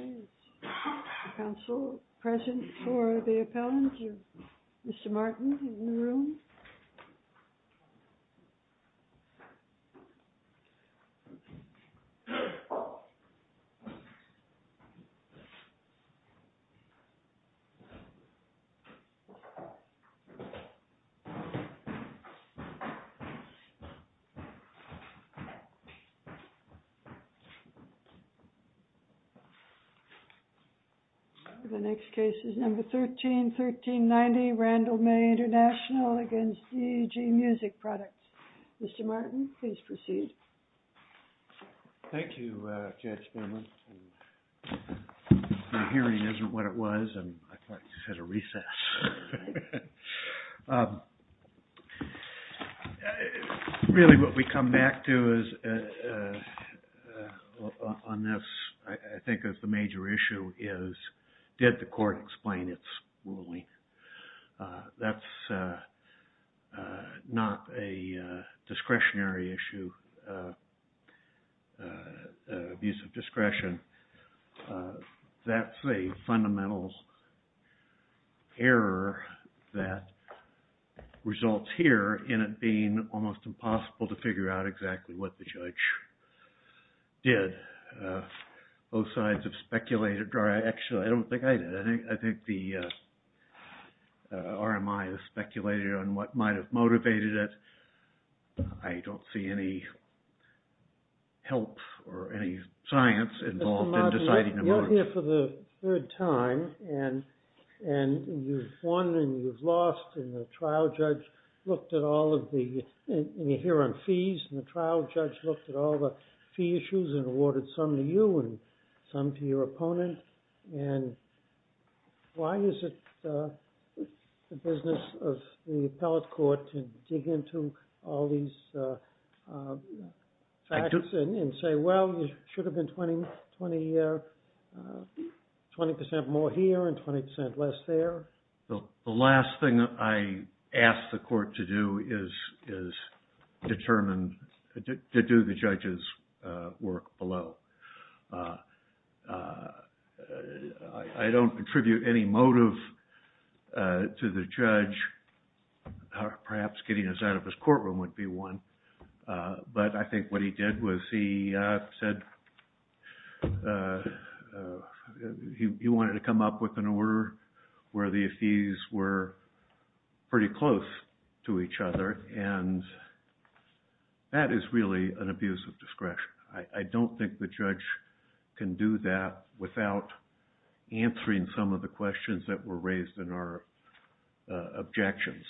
Is there a council present for the appellant, Mr. Martin, in the room? The next case is number 13-1390, Randall May International v. DEG Music Products. Mr. Martin, please proceed. Thank you, Judge Berman. My hearing isn't what it was, and I thought you had a recess. Really, what we come back to on this, I think, is the major issue is, did the court explain its ruling? That's not a discretionary issue, abuse of discretion. That's a fundamental error that results here in it being almost impossible to figure out exactly what the judge did. Both sides have speculated. Actually, I don't think I did. I think the RMI has speculated on what might have motivated it. I don't see any help or any science involved in deciding the motive. You've been here for the third time, and you've won and you've lost, and you're here on fees, and the trial judge looked at all the fee issues and awarded some to you and some to your opponent. Why is it the business of the appellate court to dig into all these facts and say, well, you should have been 20% more here and 20% less there? The last thing I ask the court to do is determine, to do the judge's work below. I don't attribute any motive to the judge. Perhaps getting us out of his courtroom would be one. But I think what he did was he said he wanted to come up with an order where the fees were pretty close to each other, and that is really an abuse of discretion. I don't think the judge can do that without answering some of the questions that were raised in our objections,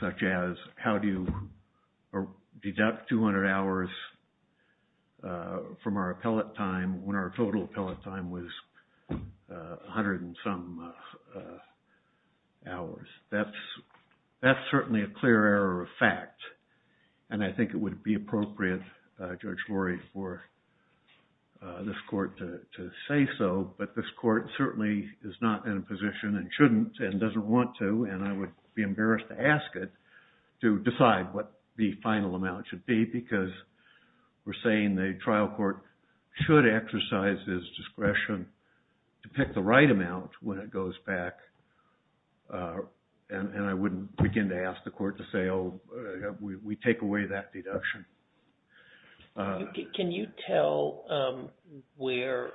such as, how do you deduct 200 hours from our appellate time when our total appellate time was 100 and some hours? That's certainly a clear error of fact, and I think it would be appropriate, Judge Lurie, for this court to say so, but this court certainly is not in a position and shouldn't and doesn't want to, and I would be embarrassed to ask it to decide what the final amount should be, because we're saying the trial court should exercise his discretion to pick the right amount when it goes back, and I wouldn't begin to ask the court to say, oh, we take away that deduction. Can you tell where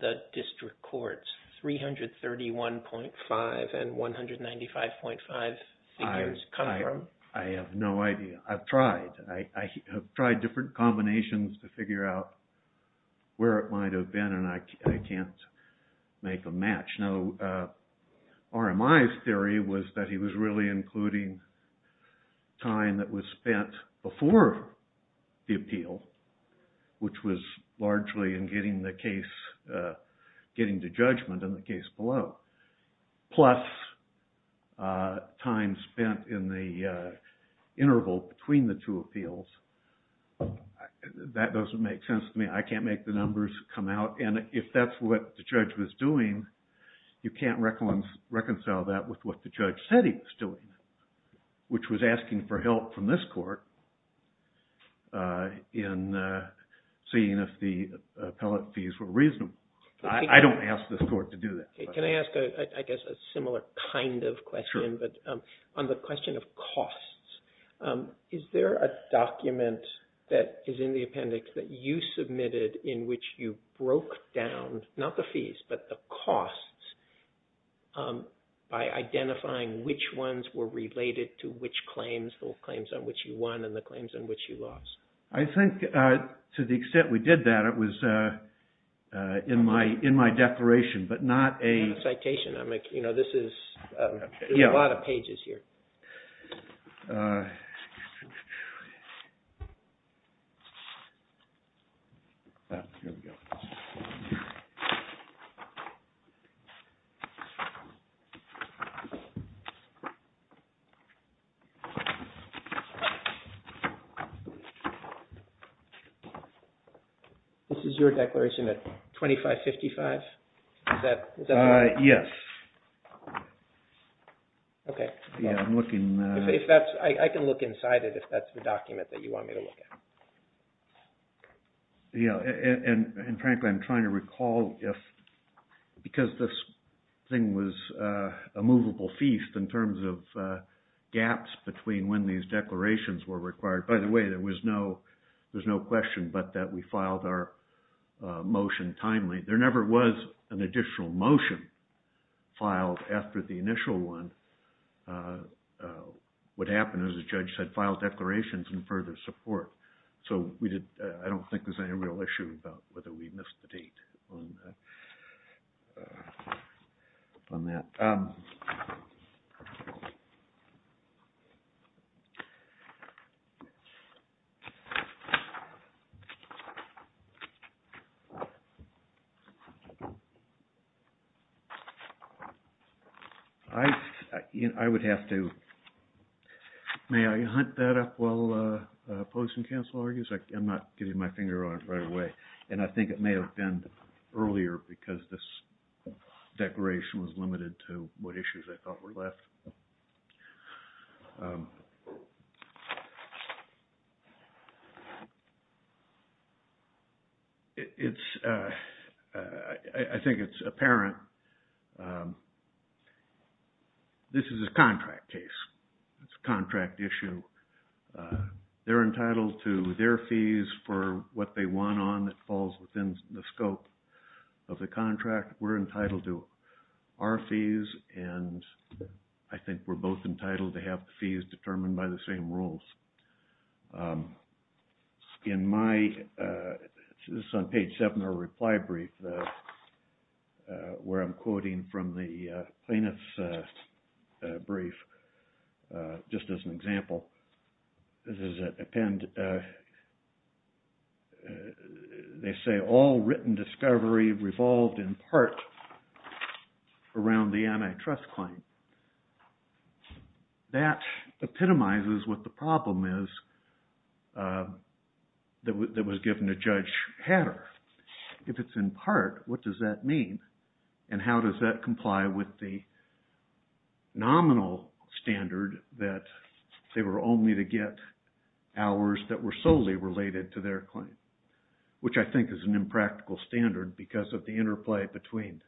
the district court's 331.5 and 195.5 figures come from? I have no idea. I've tried. I have tried different combinations to figure out where it might have been, and I can't make a match. RMI's theory was that he was really including time that was spent before the appeal, which was largely in getting the case, getting the judgment in the case below, plus time spent in the interval between the two appeals. That doesn't make sense to me. I can't make the numbers come out, and if that's what the judge was doing, you can't reconcile that with what the judge said he was doing, which was asking for help from this court in seeing if the appellate fees were reasonable. I don't ask this court to do that. Can I ask, I guess, a similar kind of question, but on the question of costs, is there a document that is in the appendix that you submitted in which you broke down, not the fees, but the costs by identifying which ones were related to which claims, the claims on which you won and the claims on which you lost? I think to the extent we did that, it was in my declaration, but not a... Not a citation. There's a lot of pages here. This is your declaration at 2555? Yes. Okay. Yeah, I'm looking... I can look inside it if that's the document that you want me to look at. Yeah, and frankly, I'm trying to recall if, because this thing was a movable feast in terms of gaps between when these declarations were required. By the way, there was no question but that we filed our motion timely. There never was an additional motion filed after the initial one. What happened is the judge had filed declarations in further support, so I don't think there's any real issue about whether we missed the date on that. I would have to... I'm not getting my finger on it right away, and I think it may have been earlier because this declaration was limited to what issues I thought were left. It's... I think it's apparent. This is a contract case. It's a contract issue. They're entitled to their fees for what they want on that falls within the scope of the contract. We're entitled to our fees, and I think we're both entitled to have the fees determined by the same rules. In my... this is on page 7 of the reply brief where I'm quoting from the plaintiff's brief just as an example. This is an append... they say all written discovery revolved in part around the antitrust claim. That epitomizes what the problem is that was given to Judge Hatter. If it's in part, what does that mean, and how does that comply with the nominal standard that they were only to get hours that were solely related to their claim, which I think is an impractical standard because of the interplay between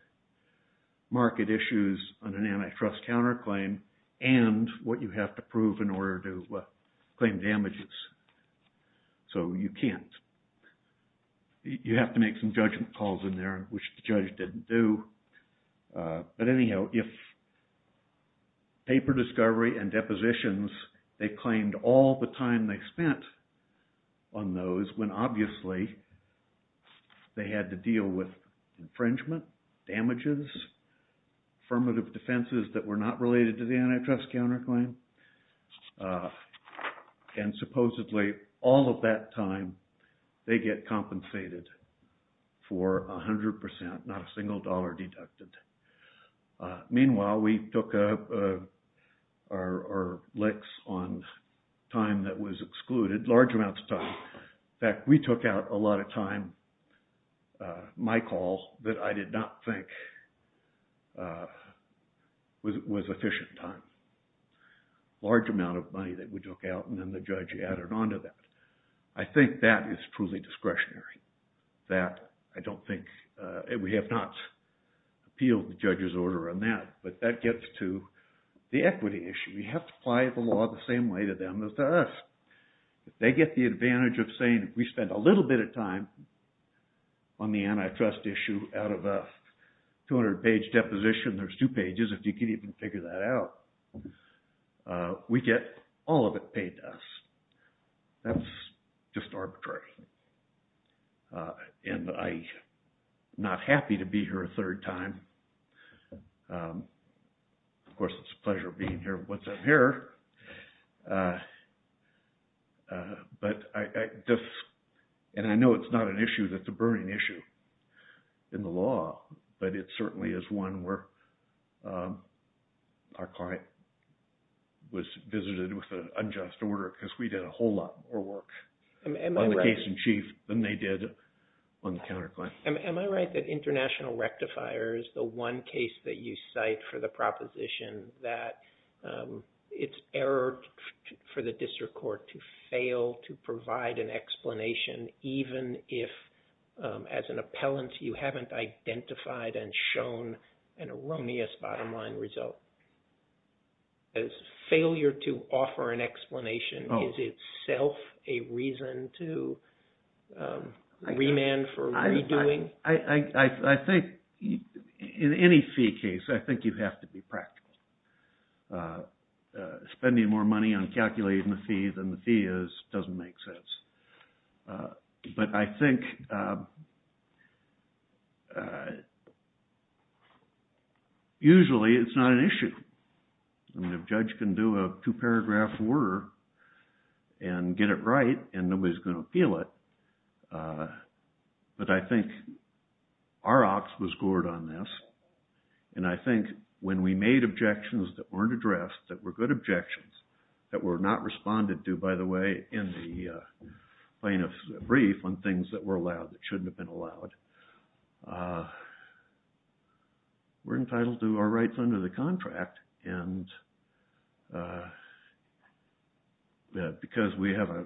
market issues on an antitrust counterclaim and what you have to prove in order to claim damages. So you can't... you have to make some judgment calls in there, which the judge didn't do. But anyhow, if paper discovery and depositions, they claimed all the time they spent on those when obviously they had to deal with infringement, damages, affirmative defenses that were not related to the antitrust counterclaim. And supposedly all of that time they get compensated for 100%, not a single dollar deducted. Meanwhile, we took our licks on time that was excluded, large amounts of time. In fact, we took out a lot of time, my call, that I did not think was efficient time. Large amount of money that we took out and then the judge added on to that. I think that is truly discretionary. That I don't think... we have not appealed the judge's order on that, but that gets to the equity issue. We have to apply the law the same way to them as to us. If they get the advantage of saying we spent a little bit of time on the antitrust issue out of a 200-page deposition, there's two pages if you can even figure that out, we get all of it paid to us. That's just arbitrary. And I'm not happy to be here a third time. Of course, it's a pleasure being here once I'm here. And I know it's not an issue that's a burning issue in the law, but it certainly is one where our client was visited with an unjust order because we did a whole lot more work on the case in chief than they did on the counterclaim. Am I right that international rectifier is the one case that you cite for the proposition that it's error for the district court to fail to provide an explanation even if as an appellant you haven't identified and shown an erroneous bottom line result? Failure to offer an explanation is itself a reason to remand for redoing? I think in any fee case, I think you have to be practical. Spending more money on calculating the fee than the fee is doesn't make sense. But I think usually it's not an issue. I mean, a judge can do a two paragraph order and get it right and nobody's going to appeal it. But I think our ox was gored on this and I think when we made objections that weren't addressed that were good objections that were not responded to, by the way, in the plaintiff's brief on things that were allowed that shouldn't have been allowed, we're entitled to our rights under the contract. And because we have a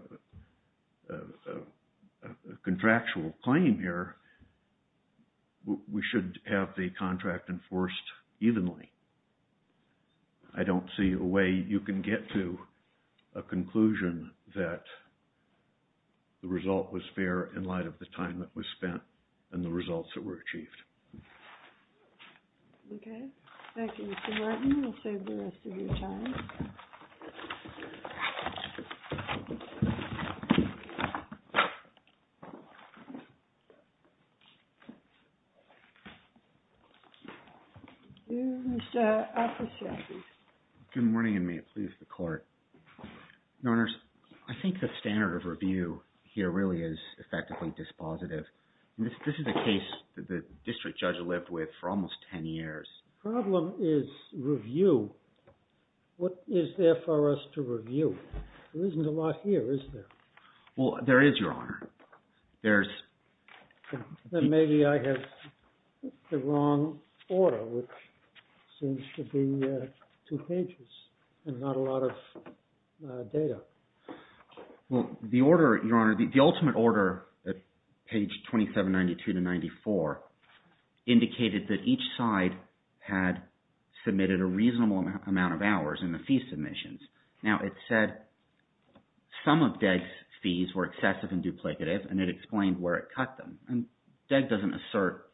contractual claim here, we should have the contract enforced evenly. I don't see a way you can get to a conclusion that the result was fair in light of the time that was spent and the results that were achieved. Okay. Thank you, Mr. Martin. We'll save the rest of your time. Good morning and may it please the court. I think the standard of review here really is effectively dispositive. This is a case that the district judge lived with for almost 10 years. The problem is review. What is there for us to review? There isn't a lot here, is there? Well, there is, Your Honor. There's… Then maybe I have the wrong order, which seems to be two pages and not a lot of data. Well, the order, Your Honor, the ultimate order at page 2792-94 indicated that each side had submitted a reasonable amount of hours in the fee submissions. Now, it said some of Degg's fees were excessive and duplicative, and it explained where it cut them. And Degg doesn't assert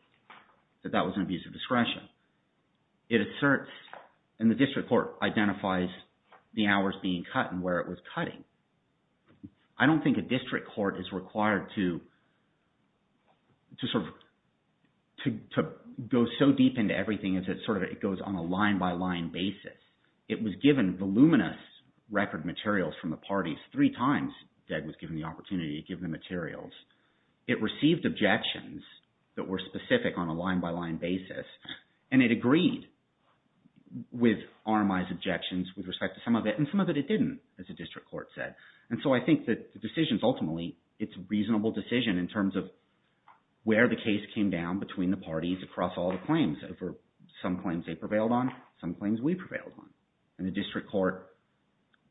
that that was an abuse of discretion. It asserts – and the district court identifies the hours being cut and where it was cutting. I don't think a district court is required to sort of – to go so deep into everything as it sort of goes on a line-by-line basis. It was given voluminous record materials from the parties three times Degg was given the opportunity to give the materials. It received objections that were specific on a line-by-line basis, and it agreed with RMI's objections with respect to some of it, and some of it it didn't, as the district court said. And so I think that the decisions ultimately, it's a reasonable decision in terms of where the case came down between the parties across all the claims. Some claims they prevailed on. Some claims we prevailed on. And the district court,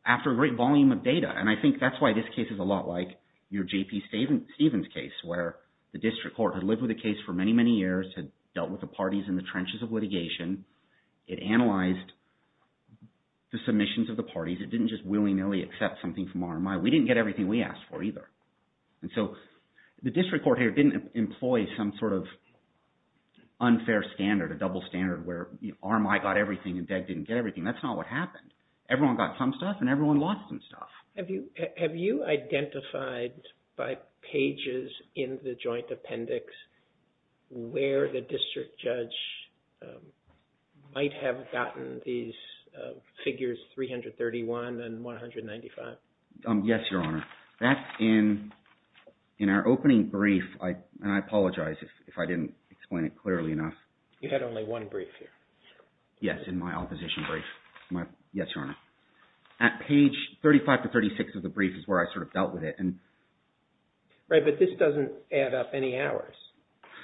after a great volume of data – and I think that's why this case is a lot like your J.P. Stevens case where the district court had lived with the case for many, many years, had dealt with the parties in the trenches of litigation. It analyzed the submissions of the parties. It didn't just willy-nilly accept something from RMI. We didn't get everything we asked for either. And so the district court here didn't employ some sort of unfair standard, a double standard where RMI got everything and Degg didn't get everything. That's not what happened. Everyone got some stuff and everyone lost some stuff. Have you identified by pages in the joint appendix where the district judge might have gotten these figures 331 and 195? Yes, Your Honor. That's in our opening brief, and I apologize if I didn't explain it clearly enough. You had only one brief here. Yes, in my opposition brief. Yes, Your Honor. At page 35 to 36 of the brief is where I sort of dealt with it. Right, but this doesn't add up any hours.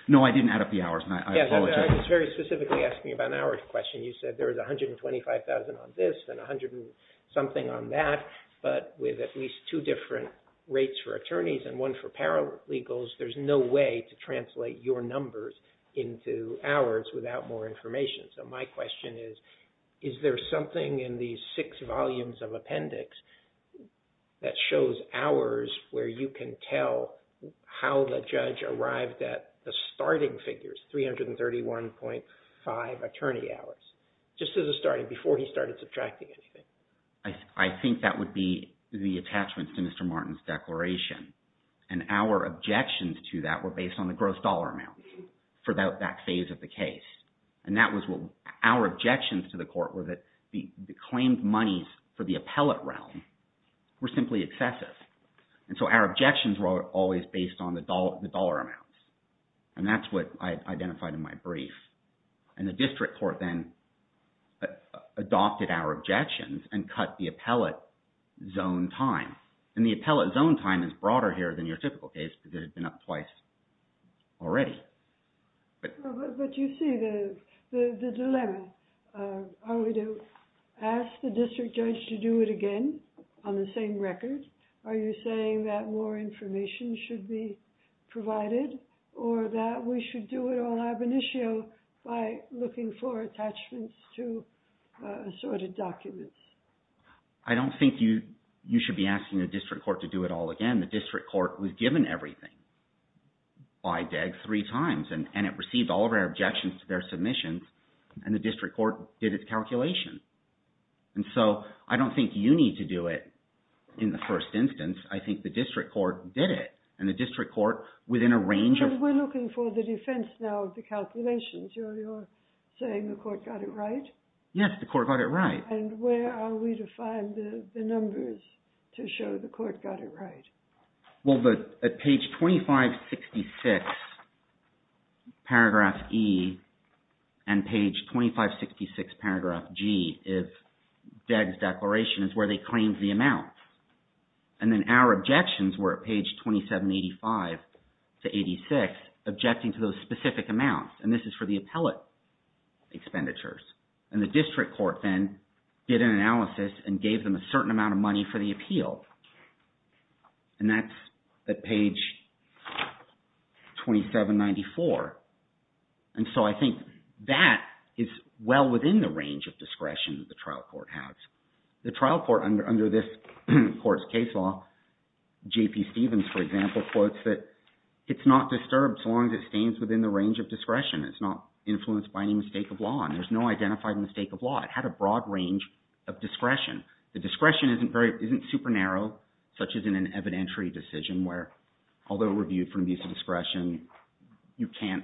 No, I didn't add up the hours. I apologize. I was very specifically asking about an hour question. You said there was $125,000 on this and $100,000-something on that, but with at least two different rates for attorneys and one for paralegals, there's no way to translate your numbers into hours without more information. So my question is, is there something in these six volumes of appendix that shows hours where you can tell how the judge arrived at the starting figures, 331.5 attorney hours, just as a starting, before he started subtracting anything? I think that would be the attachment to Mr. Martin's declaration. And our objections to that were based on the gross dollar amounts for that phase of the case. And that was – our objections to the court were that the claimed monies for the appellate realm were simply excessive. And so our objections were always based on the dollar amounts, and that's what I identified in my brief. And the district court then adopted our objections and cut the appellate zone time. And the appellate zone time is broader here than your typical case because it had been up twice already. But you see the dilemma. Are we to ask the district judge to do it again on the same record? Are you saying that more information should be provided or that we should do it all ab initio by looking for attachments to assorted documents? I don't think you should be asking the district court to do it all again. The district court was given everything by DEG three times, and it received all of our objections to their submissions, and the district court did its calculations. And so I don't think you need to do it in the first instance. I think the district court did it, and the district court within a range of – But we're looking for the defense now of the calculations. You're saying the court got it right? Yes, the court got it right. And where are we to find the numbers to show the court got it right? Well, at page 2566, paragraph E, and page 2566, paragraph G is DEG's declaration is where they claimed the amount. And then our objections were at page 2785 to 86, objecting to those specific amounts, and this is for the appellate expenditures. And the district court then did an analysis and gave them a certain amount of money for the appeal, and that's at page 2794. And so I think that is well within the range of discretion that the trial court has. The trial court under this court's case law, J.P. Stevens, for example, quotes that it's not disturbed so long as it stands within the range of discretion. It's not influenced by any mistake of law, and there's no identified mistake of law. It had a broad range of discretion. The discretion isn't super narrow, such as in an evidentiary decision where, although reviewed from the use of discretion, you can't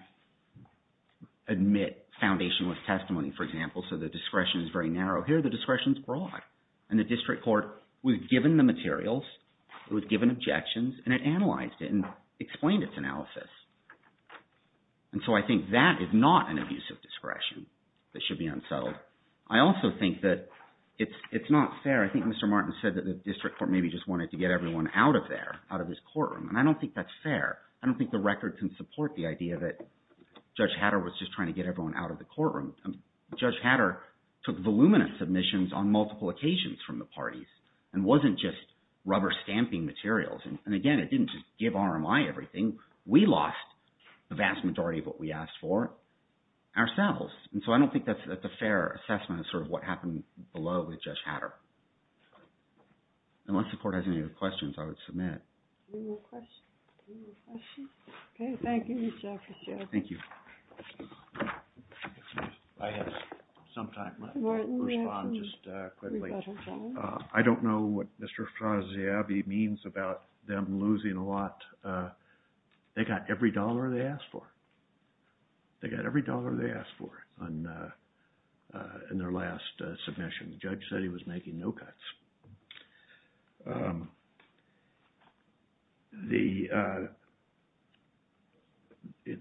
admit foundationless testimony, for example, so the discretion is very narrow. Here, the discretion is broad, and the district court was given the materials, it was given objections, and it analyzed it and explained its analysis. And so I think that is not an abuse of discretion that should be unsettled. I also think that it's not fair. I think Mr. Martin said that the district court maybe just wanted to get everyone out of there, out of this courtroom, and I don't think that's fair. I don't think the record can support the idea that Judge Hatter was just trying to get everyone out of the courtroom. Judge Hatter took voluminous submissions on multiple occasions from the parties and wasn't just rubber-stamping materials, and again, it didn't just give RMI everything. We lost the vast majority of what we asked for ourselves, and so I don't think that's a fair assessment of sort of what happened below with Judge Hatter. Unless the court has any other questions, I would submit. Any more questions? Okay. Thank you, Mr. Fitzgerald. Thank you. I have some time. Let me respond just quickly. I don't know what Mr. Fraziabi means about them losing a lot. They got every dollar they asked for. They got every dollar they asked for in their last submission. The judge said he was making no cuts.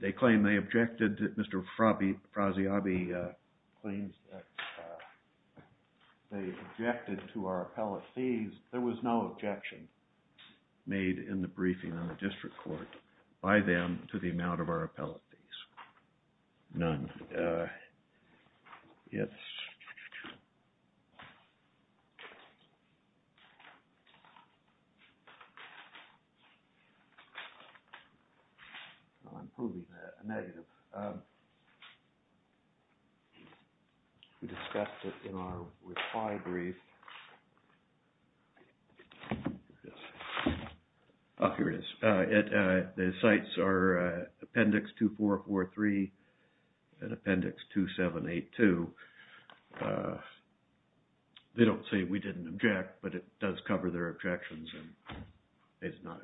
They claim they objected. Mr. Fraziabi claims that they objected to our appellate fees. There was no objection made in the briefing on the district court by them to the amount of our appellate fees, none. Yes. I'm proving a negative. We discussed it in our reply brief. Oh, here it is. The sites are Appendix 2443 and Appendix 2782. They don't say we didn't object, but it does cover their objections, and they did not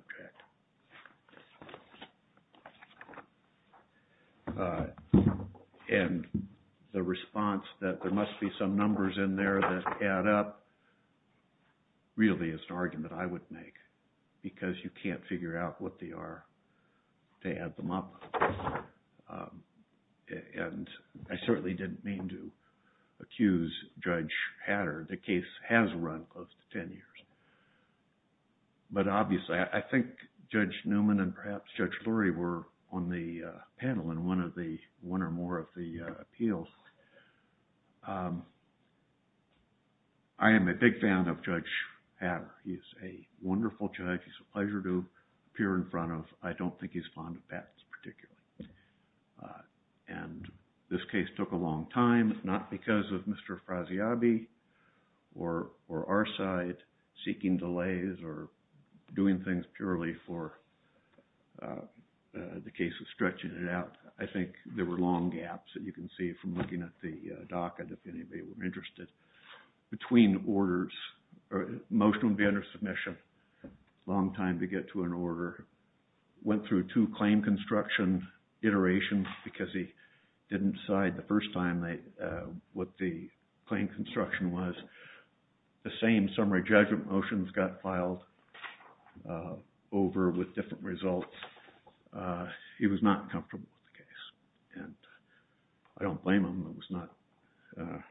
object. And the response that there must be some numbers in there that add up really is an argument I would make because you can't figure out what they are to add them up. And I certainly didn't mean to accuse Judge Hatter. The case has run close to ten years. But obviously, I think Judge Newman and perhaps Judge Lurie were on the panel in one or more of the appeals. I am a big fan of Judge Hatter. He is a wonderful judge. It's a pleasure to appear in front of. I don't think he's fond of patents particularly. And this case took a long time, not because of Mr. Fraziabi or our side seeking delays or doing things purely for the case of stretching it out. I think there were long gaps that you can see from looking at the docket if anybody were interested. Between orders, a motion would be under submission, a long time to get to an order. Went through two claim construction iterations because he didn't decide the first time what the claim construction was. The same summary judgment motions got filed over with different results. He was not comfortable with the case. And I don't blame him. It was not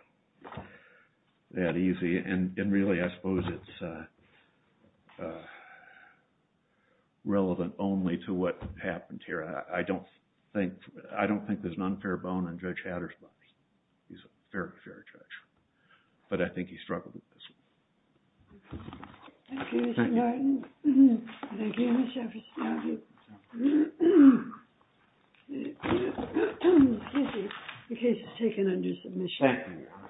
that easy. And really, I suppose it's relevant only to what happened here. I don't think there's an unfair bone in Judge Hatter's body. He's a very fair judge. But I think he struggled with this. Thank you, Mr. Martin. Thank you, Mr. Fraziabi. The case is taken under submission. Thank you.